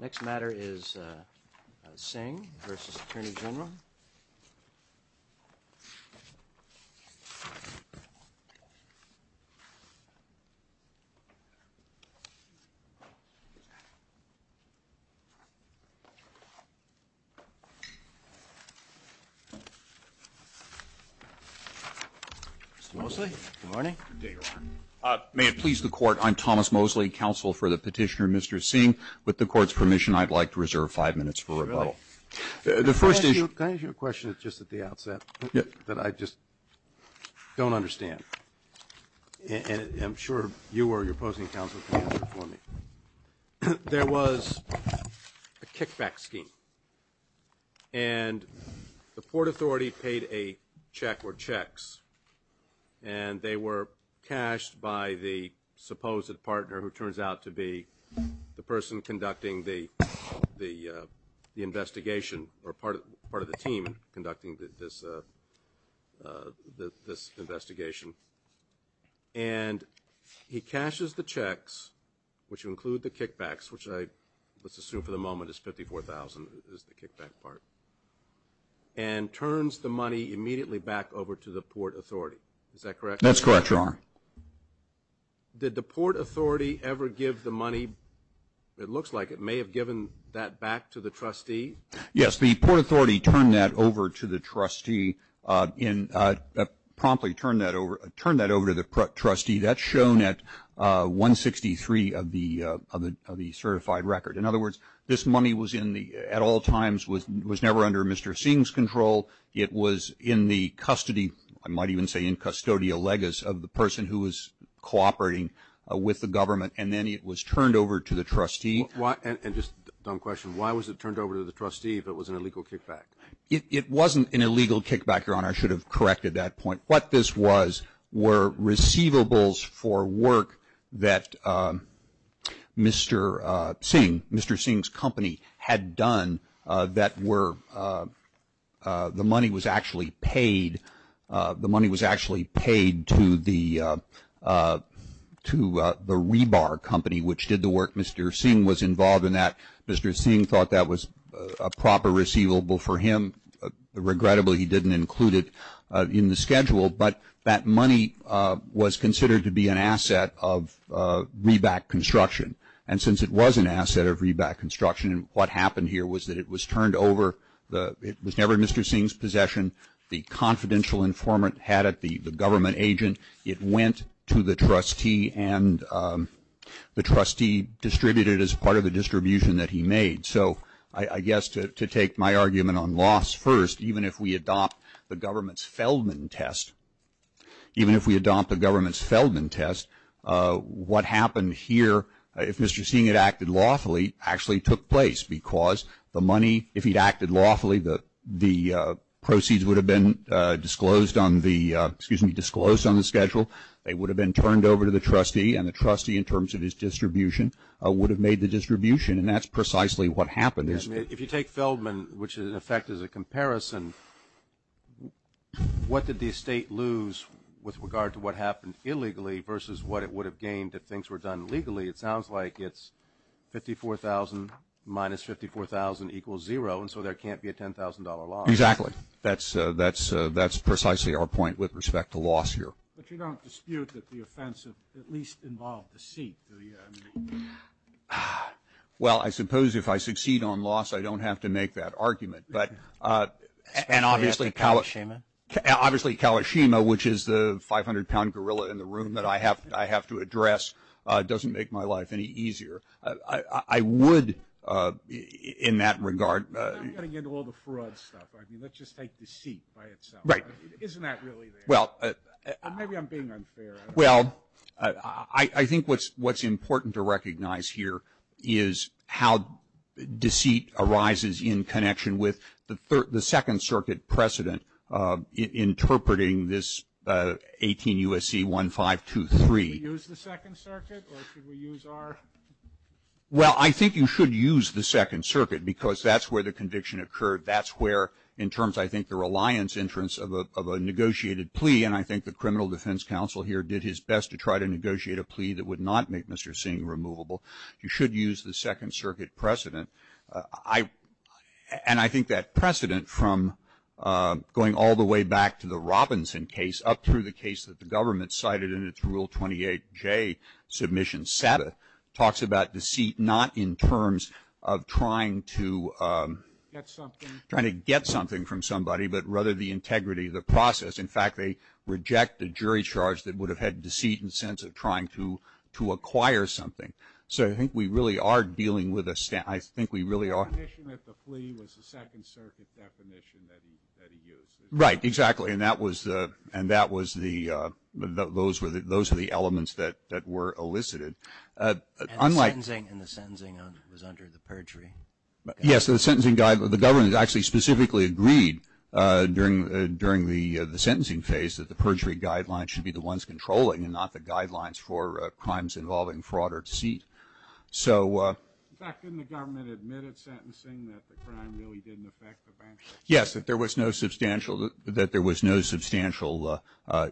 Mr. Mosley, good morning. May it please the court, I'm Thomas Mosley, counsel for the petitioner Mr. Singh. With the court's permission, I'd like to reserve five minutes for rebuttal. The first issue. Can I ask you a question just at the outset that I just don't understand? And I'm sure you or your opposing counsel can answer for me. There was a kickback scheme, and the Port Authority paid a check or checks, and they were cashed by the supposed partner who turns out to be the person conducting the investigation, or part of the team conducting this investigation. And he cashes the checks, which include the kickbacks, which let's assume for the moment is $54,000, is the kickback part, and turns the money immediately back over to the Port Authority. Is that correct? That's correct, Your Honor. Did the Port Authority ever give the money? It looks like it may have given that back to the trustee. Yes, the Port Authority turned that over to the trustee, promptly turned that over to the trustee. That's shown at 163 of the certified record. In other words, this money at all times was never under Mr. Singh's control. It was in the custody, I might even say in custodial legis of the person who was cooperating with the government, and then it was turned over to the trustee. And just a dumb question. Why was it turned over to the trustee if it was an illegal kickback? It wasn't an illegal kickback, Your Honor. I should have corrected that point. What this was were receivables for work that Mr. Singh, Mr. Singh's company had done that were, the money was actually paid, the money was actually paid to the rebar company which did the work. Mr. Singh was involved in that. Mr. Singh thought that was a proper receivable for him. Regrettably, he didn't include it in the schedule, but that money was considered to be an asset of rebar construction. And since it was an asset of rebar construction, what happened here was that it was turned over. It was never in Mr. Singh's possession. The confidential informant had it, the government agent. It went to the trustee, and the trustee distributed it as part of the distribution that he made. So I guess to take my argument on loss first, even if we adopt the government's Feldman test, even if we adopt the government's Feldman test, what happened here, if Mr. Singh had acted lawfully, actually took place because the money, if he'd acted lawfully, the proceeds would have been disclosed on the schedule. They would have been turned over to the trustee, and the trustee in terms of his distribution would have made the distribution. And that's precisely what happened. If you take Feldman, which in effect is a comparison, what did the estate lose with regard to what happened illegally versus what it would have gained if things were done legally? It sounds like it's $54,000 minus $54,000 equals zero, and so there can't be a $10,000 loss. Exactly. That's precisely our point with respect to loss here. But you don't dispute that the offense at least involved deceit? Well, I suppose if I succeed on loss, I don't have to make that argument. And obviously Kalashima, which is the 500-pound gorilla in the room that I have to address, doesn't make my life any easier. I would in that regard. I'm getting into all the fraud stuff. Let's just take deceit by itself. Right. Isn't that really there? Maybe I'm being unfair. Well, I think what's important to recognize here is how deceit arises in connection with the Second Circuit precedent interpreting this 18 U.S.C. 1523. Should we use the Second Circuit or should we use our? Well, I think you should use the Second Circuit because that's where the conviction occurred. That's where in terms I think the reliance entrance of a negotiated plea, and I think the Criminal Defense Council here did his best to try to negotiate a plea that would not make Mr. Singh removable. You should use the Second Circuit precedent. And I think that precedent from going all the way back to the Robinson case up through the case that the government cited in its Rule 28J submission, talks about deceit not in terms of trying to get something from somebody, but rather the integrity of the process. In fact, they reject the jury charge that would have had deceit in the sense of trying to acquire something. So I think we really are dealing with a, I think we really are. The definition of the plea was the Second Circuit definition that he used. Right. Exactly. And that was the, those were the elements that were elicited. And the sentencing was under the perjury. Yes, the sentencing, the government actually specifically agreed during the sentencing phase that the perjury guidelines should be the ones controlling and not the guidelines for crimes involving fraud or deceit. In fact, didn't the government admit at sentencing that the crime really didn't affect the bankruptcy? Yes, that there was no substantial, that there was no substantial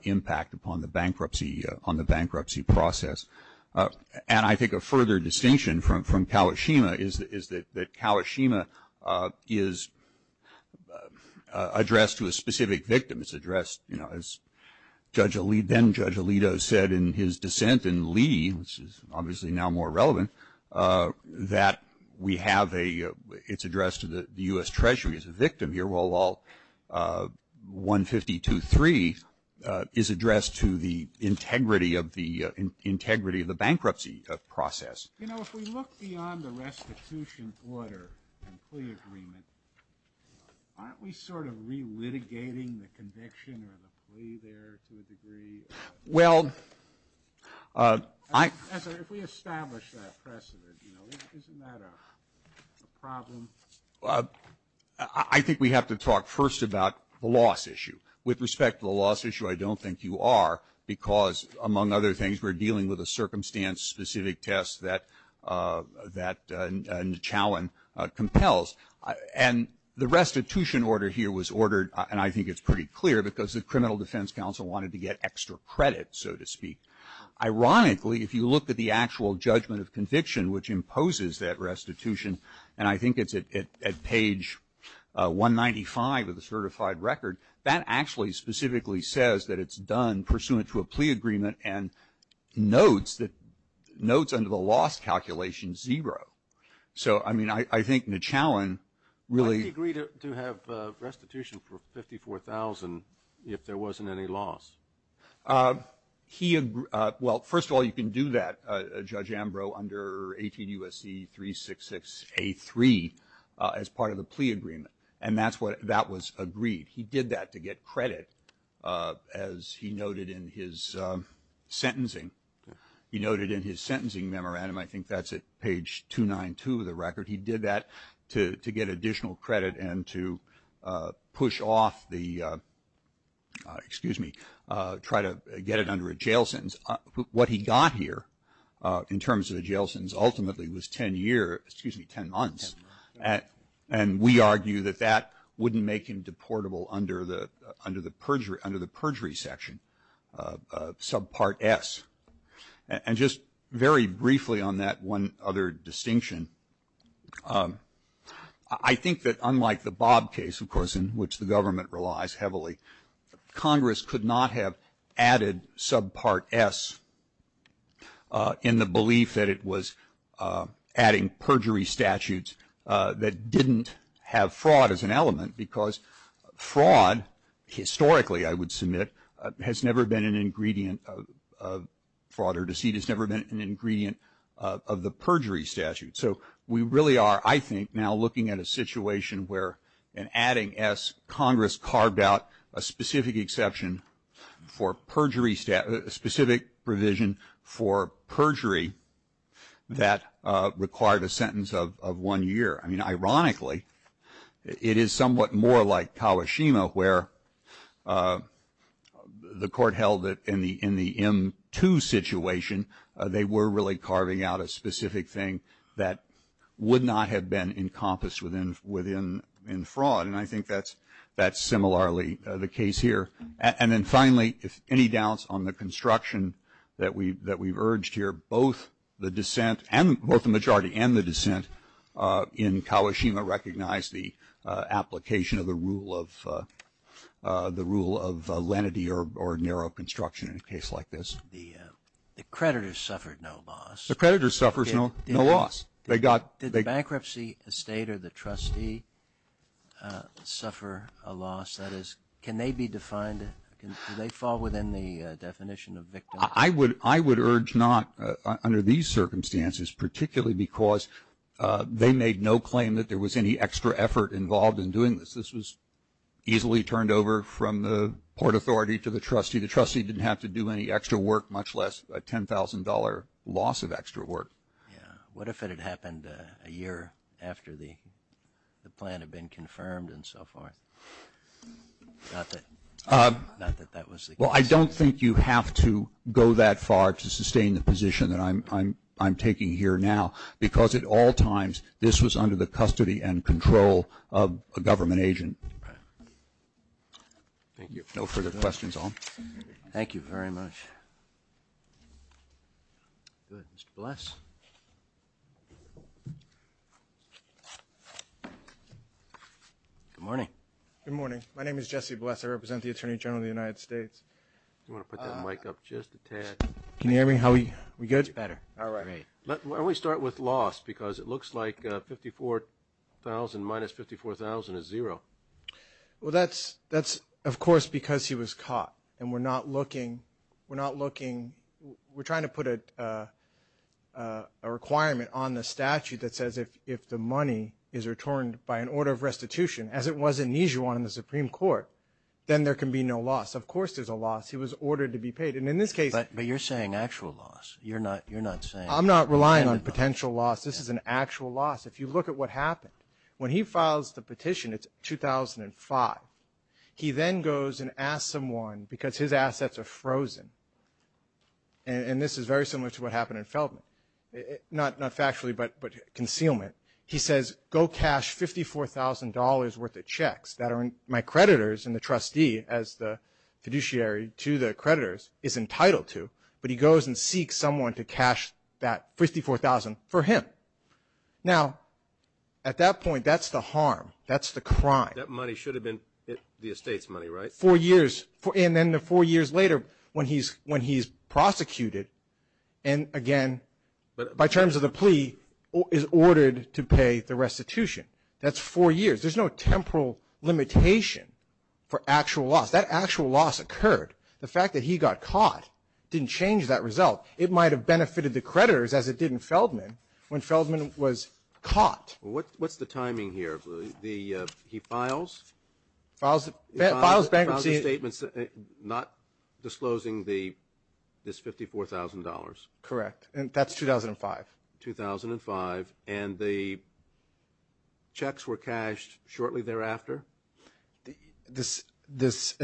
impact upon the bankruptcy, on the bankruptcy process. And I think a further distinction from Kawashima is that Kawashima is addressed to a specific victim. It's addressed, you know, as Judge Alito, then Judge Alito said in his dissent in Lee, which is obviously now more relevant, that we have a, it's addressed to the U.S. Treasury as a victim here, while 152.3 is addressed to the integrity of the, integrity of the bankruptcy process. You know, if we look beyond the restitution order and plea agreement, aren't we sort of re-litigating the conviction or the plea there to a degree? Well, I. If we establish that precedent, you know, isn't that a problem? I think we have to talk first about the loss issue. With respect to the loss issue, I don't think you are, because among other things, we're dealing with a circumstance-specific test that, that Nachowen compels. And the restitution order here was ordered, and I think it's pretty clear, because the Criminal Defense Council wanted to get extra credit, so to speak. Ironically, if you look at the actual judgment of conviction, which imposes that restitution, and I think it's at page 195 of the certified record, that actually specifically says that it's done pursuant to a plea agreement and notes that, notes under the loss calculation zero. So, I mean, I think Nachowen really. Did he agree to have restitution for $54,000 if there wasn't any loss? He, well, first of all, you can do that, Judge Ambrose, under 18 U.S.C. 366A3 as part of the plea agreement. And that's what, that was agreed. He did that to get credit, as he noted in his sentencing. He noted in his sentencing memorandum, I think that's at page 292 of the record, he did that to get additional credit and to push off the, excuse me, try to get it under a jail sentence. What he got here, in terms of the jail sentence, ultimately was 10 years, excuse me, 10 months. And we argue that that wouldn't make him deportable under the perjury section, subpart S. And just very briefly on that one other distinction, I think that unlike the Bob case, of course, in which the government relies heavily, Congress could not have added subpart S in the belief that it was adding perjury statutes that didn't have fraud as an element. Because fraud, historically, I would submit, has never been an ingredient of fraud or deceit, has never been an ingredient of the perjury statute. So we really are, I think, now looking at a situation where an adding S, Congress carved out a specific exception for perjury, a specific provision for perjury that required a sentence of one year. I mean, ironically, it is somewhat more like Kawashima, where the court held that in the M2 situation, they were really carving out a specific thing that would not have been encompassed within fraud. And I think that's similarly the case here. And then finally, if any doubts on the construction that we've urged here, both the majority and the dissent in Kawashima recognize the application of the rule of lenity or narrow construction in a case like this. The creditors suffered no loss. The creditors suffered no loss. Did the bankruptcy estate or the trustee suffer a loss? That is, can they be defined? Do they fall within the definition of victims? I would urge not under these circumstances, particularly because they made no claim that there was any extra effort involved in doing this. This was easily turned over from the port authority to the trustee. The trustee didn't have to do any extra work, much less a $10,000 loss of extra work. Yeah. What if it had happened a year after the plan had been confirmed and so forth? Not that that was the case. Well, I don't think you have to go that far to sustain the position that I'm taking here now, because at all times, this was under the custody and control of a government agent. Thank you. No further questions, all. Thank you very much. Good. Mr. Bless. Good morning. Good morning. My name is Jesse Bless. I represent the Attorney General of the United States. Do you want to put that mic up just a tad? Can you hear me? Are we good? It's better. All right. Why don't we start with loss, because it looks like 54,000 minus 54,000 is zero. Well, that's, of course, because he was caught, and we're not looking. We're not looking. We're trying to put a requirement on the statute that says if the money is returned by an order of restitution, as it was in Nijuan in the Supreme Court, then there can be no loss. Of course there's a loss. He was ordered to be paid. And in this case ---- But you're saying actual loss. You're not saying ---- I'm not relying on potential loss. This is an actual loss. If you look at what happened, when he files the petition, it's 2005. He then goes and asks someone, because his assets are frozen, and this is very similar to what happened in Feldman, not factually, but concealment. He says, go cash $54,000 worth of checks that my creditors and the trustee, as the fiduciary to the creditors, is entitled to. But he goes and seeks someone to cash that 54,000 for him. Now, at that point, that's the harm. That's the crime. That money should have been the estate's money, right? Four years. And then four years later, when he's prosecuted, and again, by terms of the plea, is ordered to pay the restitution. That's four years. There's no temporal limitation for actual loss. That actual loss occurred. The fact that he got caught didn't change that result. It might have benefited the creditors, as it did in Feldman, when Feldman was caught. What's the timing here? He files? Files bankruptcy. Files a statement not disclosing this $54,000. Correct. And that's 2005. 2005. And the checks were cashed shortly thereafter?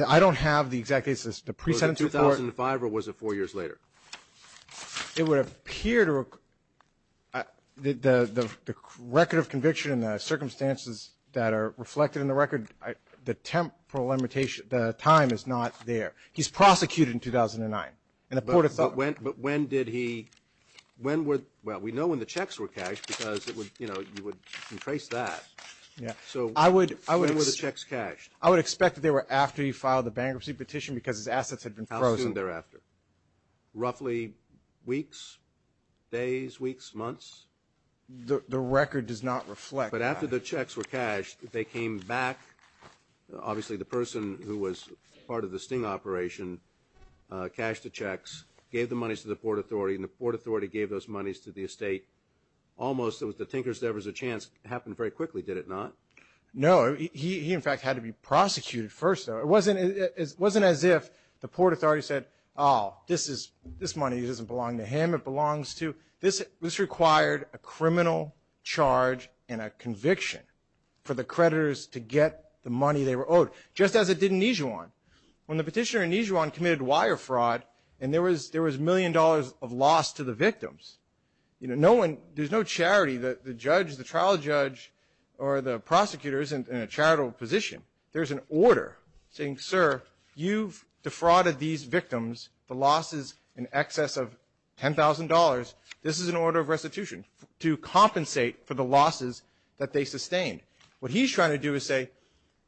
I don't have the exact date. Was it 2005, or was it four years later? It would appear to record the record of conviction and the circumstances that are reflected in the record. The temporal limitation, the time is not there. He's prosecuted in 2009. But when did he, when were, well, we know when the checks were cashed because it would, you know, you would trace that. So when were the checks cashed? I would expect that they were after he filed the bankruptcy petition because his assets had been frozen. How soon thereafter? Roughly weeks, days, weeks, months? The record does not reflect that. But after the checks were cashed, they came back. Obviously the person who was part of the Sting operation cashed the checks, gave the monies to the Port Authority, and the Port Authority gave those monies to the estate. Almost, it was the tinkers, there was a chance it happened very quickly. Did it not? No. He, in fact, had to be prosecuted first, though. It wasn't as if the Port Authority said, oh, this money doesn't belong to him, it belongs to, this required a criminal charge and a conviction for the creditors to get the money they were owed, just as it did in Nijuan. When the petitioner in Nijuan committed wire fraud and there was a million dollars of loss to the victims, you know, no one, there's no charity, the judge, the trial judge, or the prosecutors in a charitable position. There's an order saying, sir, you've defrauded these victims, the losses in excess of $10,000. This is an order of restitution to compensate for the losses that they sustained. What he's trying to do is say,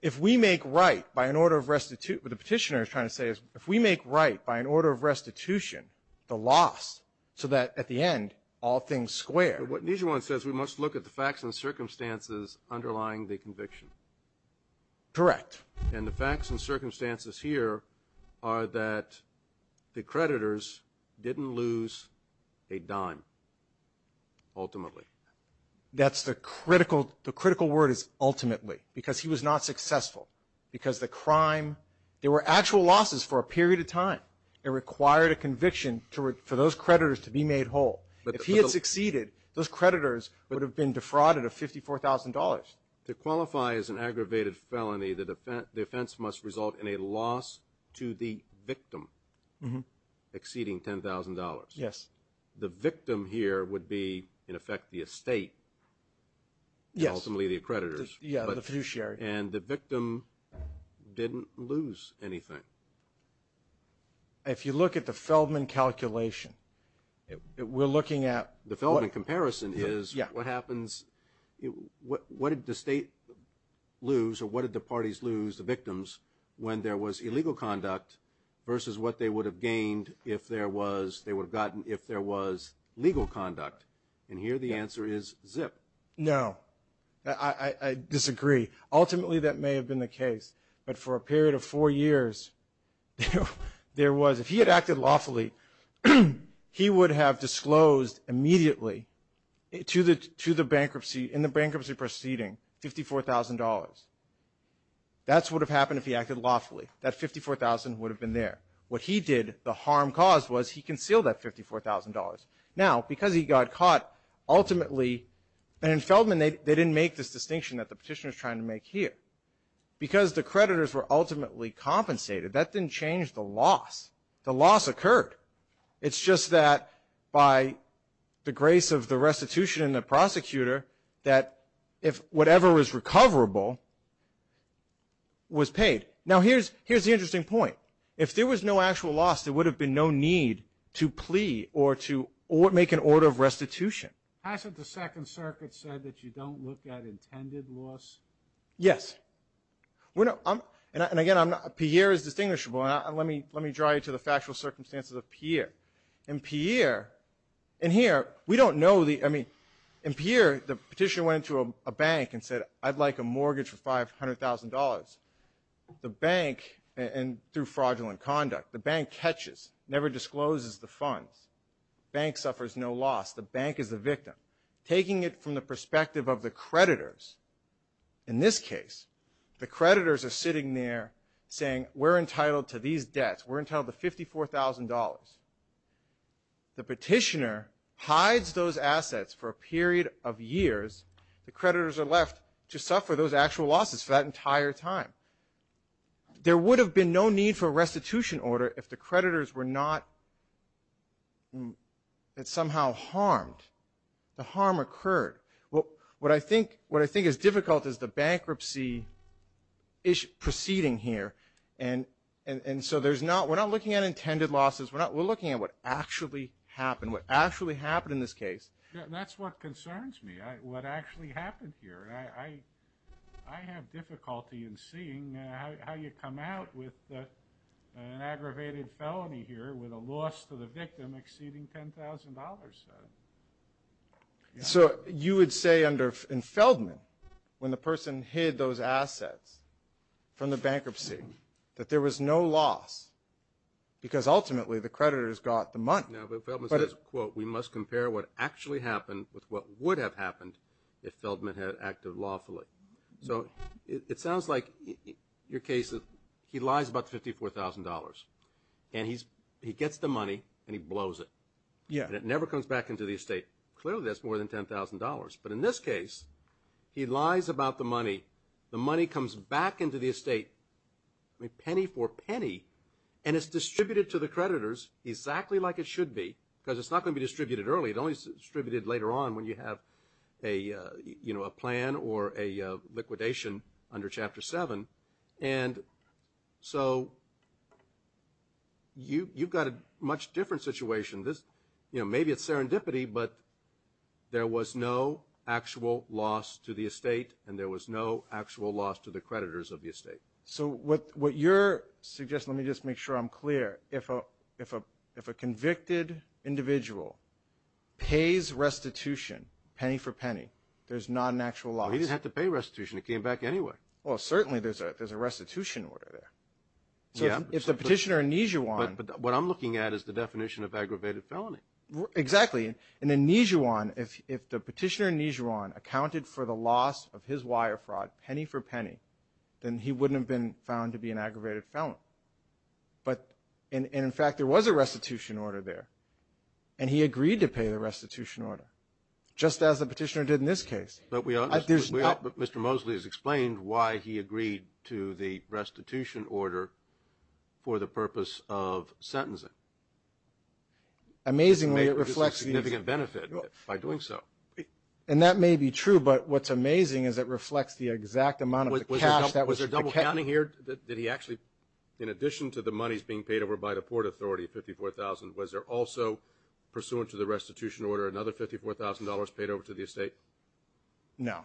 if we make right by an order of restitution, what the petitioner is trying to say is, if we make right by an order of restitution the loss, so that at the end all things square. But what Nijuan says, we must look at the facts and circumstances underlying the conviction. Correct. And the facts and circumstances here are that the creditors didn't lose a dime, ultimately. That's the critical, the critical word is ultimately. Because he was not successful. Because the crime, there were actual losses for a period of time. It required a conviction for those creditors to be made whole. If he had succeeded, those creditors would have been defrauded of $54,000. To qualify as an aggravated felony, the offense must result in a loss to the victim exceeding $10,000. Yes. The victim here would be, in effect, the estate. Yes. And ultimately the creditors. Yeah, the fiduciary. And the victim didn't lose anything. If you look at the Feldman calculation, we're looking at... The Feldman comparison is what happens, what did the state lose or what did the parties lose, the victims, when there was illegal conduct versus what they would have gained if there was legal conduct? And here the answer is zip. No. I disagree. Ultimately that may have been the case. But for a period of four years, there was... If he had acted lawfully, he would have disclosed immediately to the bankruptcy, in the bankruptcy proceeding, $54,000. That's what would have happened if he acted lawfully. That $54,000 would have been there. What he did, the harm caused, was he concealed that $54,000. Now, because he got caught, ultimately... And in Feldman they didn't make this distinction that the petitioner is trying to make here. Because the creditors were ultimately compensated, that didn't change the loss. The loss occurred. It's just that by the grace of the restitution and the prosecutor, that if whatever was recoverable was paid. Now here's the interesting point. If there was no actual loss, there would have been no need to plea or to make an order of restitution. Hasn't the Second Circuit said that you don't look at intended loss? Yes. And again, Pierre is distinguishable. And let me draw you to the factual circumstances of Pierre. In Pierre, in here, we don't know the... I mean, in Pierre, the petitioner went to a bank and said, I'd like a mortgage for $500,000. The bank, and through fraudulent conduct, the bank catches, never discloses the funds. The bank suffers no loss. The bank is the victim. Taking it from the perspective of the creditors, in this case, the creditors are sitting there saying, we're entitled to these debts. We're entitled to $54,000. The petitioner hides those assets for a period of years. The creditors are left to suffer those actual losses for that entire time. There would have been no need for a restitution order if the creditors were not somehow harmed. The harm occurred. What I think is difficult is the bankruptcy proceeding here. And so we're not looking at intended losses. We're looking at what actually happened, what actually happened in this case. That's what concerns me, what actually happened here. I have difficulty in seeing how you come out with an aggravated felony here with a loss to the victim exceeding $10,000. So you would say in Feldman, when the person hid those assets from the bankruptcy, that there was no loss because ultimately the creditors got the money. No, but Feldman says, quote, we must compare what actually happened with what would have happened if Feldman had acted lawfully. So it sounds like your case is he lies about the $54,000, and he gets the money, and he blows it. And it never comes back into the estate. Clearly, that's more than $10,000. But in this case, he lies about the money. The money comes back into the estate penny for penny, and it's distributed to the creditors exactly like it should be because it's not going to be distributed early. It's only distributed later on when you have a plan or a liquidation under Chapter 7. And so you've got a much different situation. Maybe it's serendipity, but there was no actual loss to the estate, and there was no actual loss to the creditors of the estate. So what you're suggesting, let me just make sure I'm clear. If a convicted individual pays restitution penny for penny, there's not an actual loss. Well, he didn't have to pay restitution. It came back anyway. Well, certainly there's a restitution order there. So if the petitioner in Nijuan – But what I'm looking at is the definition of aggravated felony. Exactly. In Nijuan, if the petitioner in Nijuan accounted for the loss of his wire fraud penny for penny, then he wouldn't have been found to be an aggravated felon. And, in fact, there was a restitution order there, and he agreed to pay the restitution order just as the petitioner did in this case. But Mr. Mosley has explained why he agreed to the restitution order for the purpose of sentencing. Amazingly, it reflects the – It's a significant benefit by doing so. And that may be true, but what's amazing is it reflects the exact amount of cash that was – Was there double counting here? Did he actually – in addition to the monies being paid over by the Port Authority, $54,000, was there also, pursuant to the restitution order, another $54,000 paid over to the estate? No.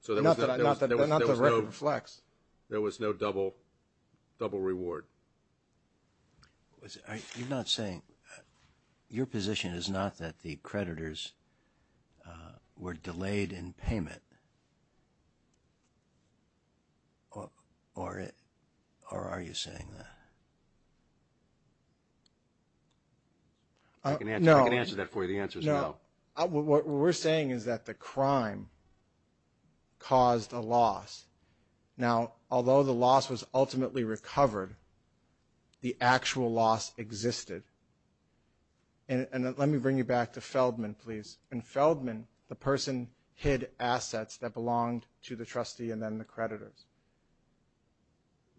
So there was no – Not that the record reflects. There was no double reward. You're not saying – Your position is not that the creditors were delayed in payment, or are you saying that? I can answer that for you. The answer is no. No. What we're saying is that the crime caused a loss. Now, although the loss was ultimately recovered, the actual loss existed. And let me bring you back to Feldman, please. In Feldman, the person hid assets that belonged to the trustee and then the creditors.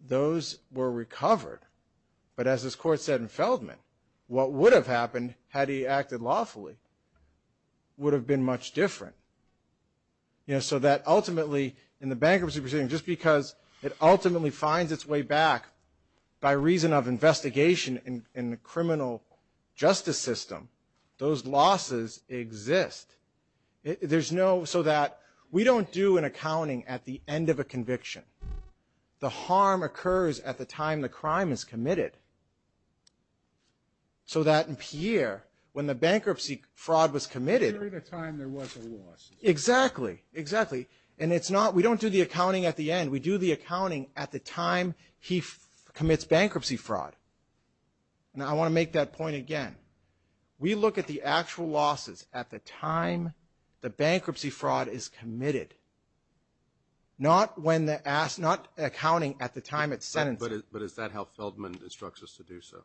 Those were recovered. But as this court said in Feldman, what would have happened had he acted lawfully would have been much different. You know, so that ultimately in the bankruptcy proceeding, just because it ultimately finds its way back by reason of investigation in the criminal justice system, those losses exist. There's no – so that we don't do an accounting at the end of a conviction. The harm occurs at the time the crime is committed. So that in Pierre, when the bankruptcy fraud was committed – Exactly, exactly. And it's not – we don't do the accounting at the end. We do the accounting at the time he commits bankruptcy fraud. Now, I want to make that point again. We look at the actual losses at the time the bankruptcy fraud is committed, not when the – not accounting at the time it's sentenced. But is that how Feldman instructs us to do so?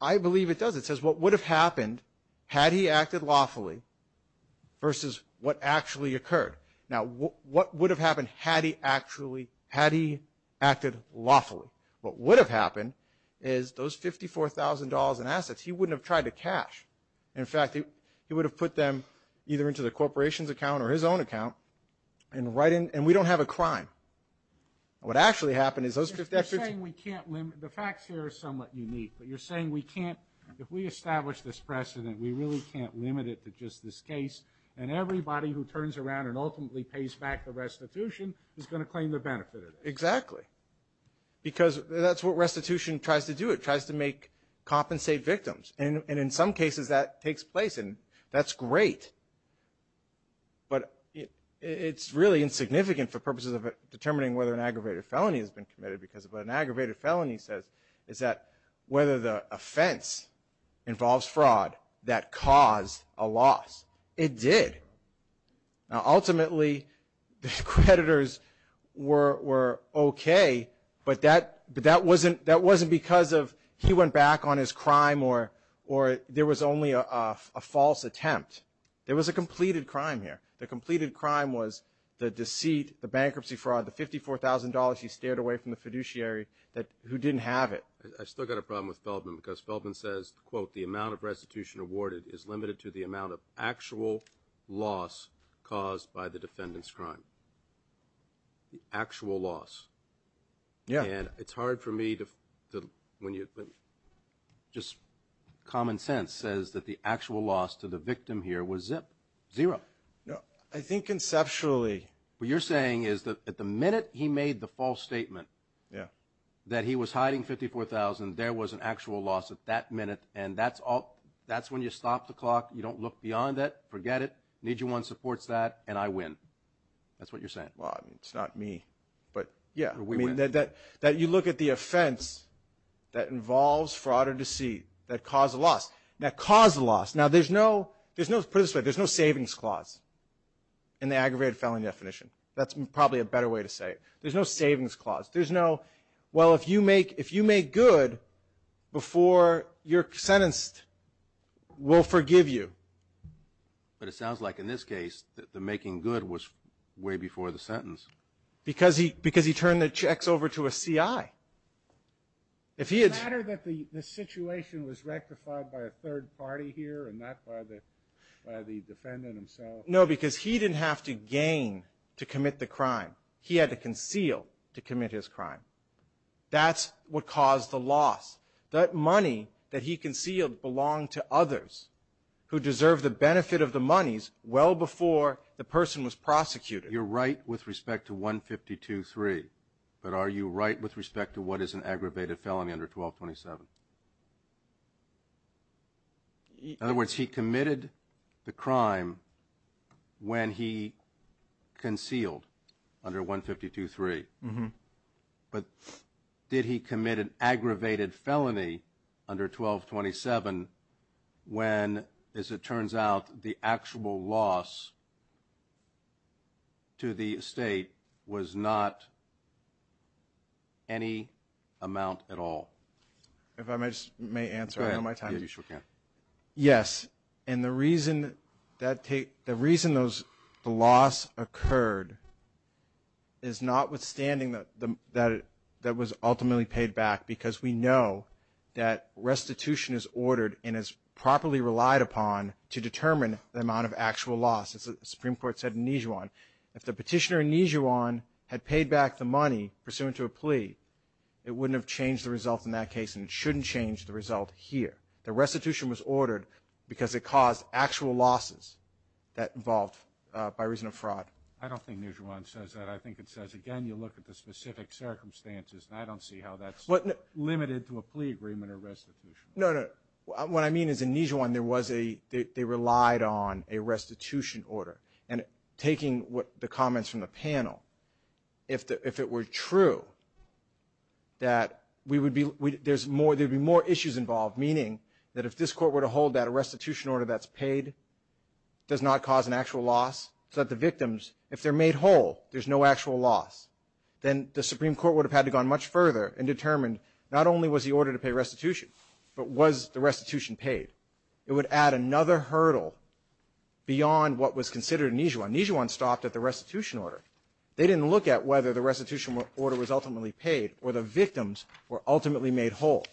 I believe it does. It says what would have happened had he acted lawfully versus what actually occurred. Now, what would have happened had he actually – had he acted lawfully? What would have happened is those $54,000 in assets, he wouldn't have tried to cash. In fact, he would have put them either into the corporation's account or his own account and write in – and we don't have a crime. What actually happened is those $54,000 – You're saying we can't – the facts here are somewhat unique. But you're saying we can't – if we establish this precedent, we really can't limit it to just this case. And everybody who turns around and ultimately pays back the restitution is going to claim the benefit of it. Exactly. Because that's what restitution tries to do. It tries to make – compensate victims. And in some cases that takes place, and that's great. But it's really insignificant for purposes of determining whether an aggravated felony has been committed because what an aggravated felony says is that whether the offense involves fraud that caused a loss, it did. Now, ultimately, the creditors were okay, but that wasn't because of he went back on his crime or there was only a false attempt. There was a completed crime here. The completed crime was the deceit, the bankruptcy fraud, the $54,000 he stared away from the fiduciary, who didn't have it. I've still got a problem with Feldman because Feldman says, quote, the amount of restitution awarded is limited to the amount of actual loss caused by the defendant's crime. The actual loss. Yeah. And it's hard for me to – when just common sense says that the actual loss to the victim here was zero. I think conceptually. What you're saying is that at the minute he made the false statement that he was hiding $54,000, there was an actual loss at that minute, and that's when you stop the clock. You don't look beyond that. Forget it. Need You 1 supports that, and I win. That's what you're saying. Well, I mean, it's not me, but yeah. That you look at the offense that involves fraud or deceit that caused a loss. Now, caused a loss. Now, there's no – put it this way. There's no savings clause in the aggravated felony definition. That's probably a better way to say it. There's no savings clause. There's no, well, if you make good before you're sentenced, we'll forgive you. But it sounds like in this case the making good was way before the sentence. Because he turned the checks over to a CI. Does it matter that the situation was rectified by a third party here and not by the defendant himself? No, because he didn't have to gain to commit the crime. He had to conceal to commit his crime. That's what caused the loss. That money that he concealed belonged to others who deserved the benefit of the monies well before the person was prosecuted. You're right with respect to 152.3. But are you right with respect to what is an aggravated felony under 1227? In other words, he committed the crime when he concealed under 152.3. But did he commit an aggravated felony under 1227 when, as it turns out, the actual loss to the state was not any amount at all? If I may answer on my time? Yeah, you sure can. Yes. And the reason the loss occurred is notwithstanding that it was ultimately paid back because we know that restitution is ordered and is properly relied upon to determine the amount of actual loss, as the Supreme Court said in Nijuan. If the petitioner in Nijuan had paid back the money pursuant to a plea, it wouldn't have changed the result in that case, and it shouldn't change the result here. The restitution was ordered because it caused actual losses that involved by reason of fraud. I don't think Nijuan says that. I think it says, again, you look at the specific circumstances, and I don't see how that's limited to a plea agreement or restitution. No, no. What I mean is in Nijuan they relied on a restitution order. And taking the comments from the panel, if it were true that there would be more issues involved, meaning that if this court were to hold that a restitution order that's paid does not cause an actual loss so that the victims, if they're made whole, there's no actual loss, then the Supreme Court would have had to have gone much further and determined not only was the order to pay restitution, but was the restitution paid. It would add another hurdle beyond what was considered in Nijuan. Nijuan stopped at the restitution order. They didn't look at whether the restitution order was ultimately paid or the victims were ultimately made whole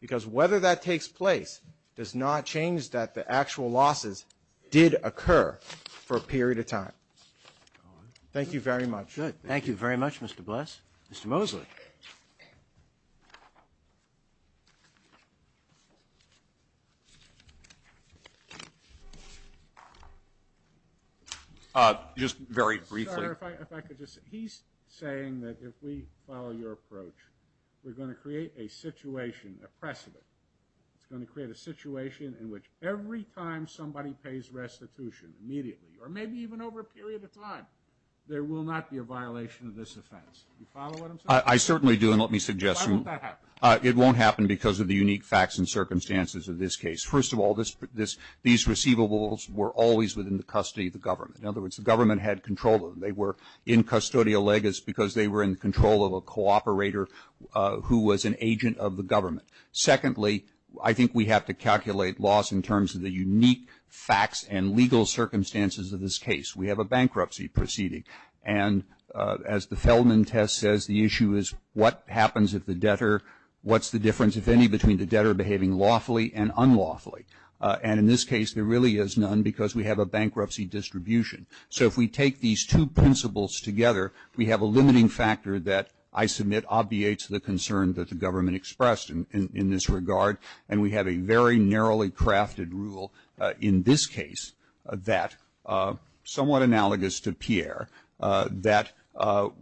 because whether that takes place does not change that the actual losses did occur for a period of time. Thank you very much. Good. Thank you very much, Mr. Bless. Mr. Mosley. Just very briefly. Senator, if I could just say, he's saying that if we follow your approach, we're going to create a situation, a precedent. It's going to create a situation in which every time somebody pays restitution immediately or maybe even over a period of time, there will not be a violation of this offense. Do you follow what I'm saying? I certainly do, and let me suggest to you. Why won't that happen? It won't happen because of the unique facts and circumstances of this case. First of all, these receivables were always within the custody of the government. In other words, the government had control of them. They were in custodia legis because they were in control of a cooperator who was an agent of the government. Secondly, I think we have to calculate loss in terms of the unique facts and legal circumstances of this case. We have a bankruptcy proceeding. And as the Feldman test says, the issue is what happens if the debtor, what's the difference, if any, between the debtor behaving lawfully and unlawfully? And in this case, there really is none because we have a bankruptcy distribution. So if we take these two principles together, we have a limiting factor that I submit obviates the concern that the government expressed in this regard, and we have a very narrowly crafted rule in this case that, somewhat analogous to Pierre, that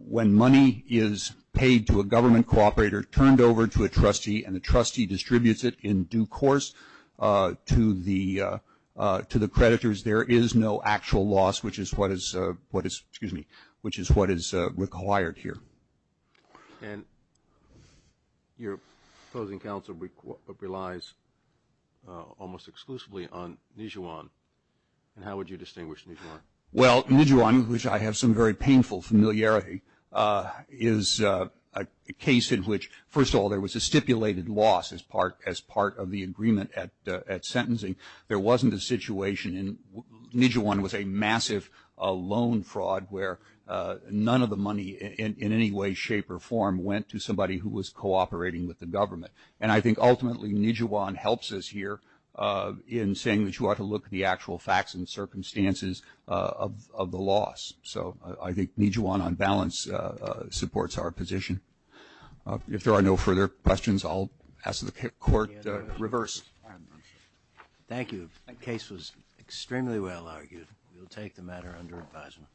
when money is paid to a government cooperator, turned over to a trustee, and the trustee distributes it in due course to the creditors, there is no actual loss, which is what is required here. And your opposing counsel relies almost exclusively on Nijuan. And how would you distinguish Nijuan? Well, Nijuan, which I have some very painful familiarity, is a case in which, first of all, there was a stipulated loss as part of the agreement at sentencing. There wasn't a situation, and Nijuan was a massive loan fraud where none of the money, in any way, shape, or form, went to somebody who was cooperating with the government. And I think, ultimately, Nijuan helps us here in saying that you ought to look at the actual facts and circumstances of the loss. So I think Nijuan, on balance, supports our position. If there are no further questions, I'll ask the Court to reverse. Thank you. The case was extremely well argued. We will take the matter under advisement.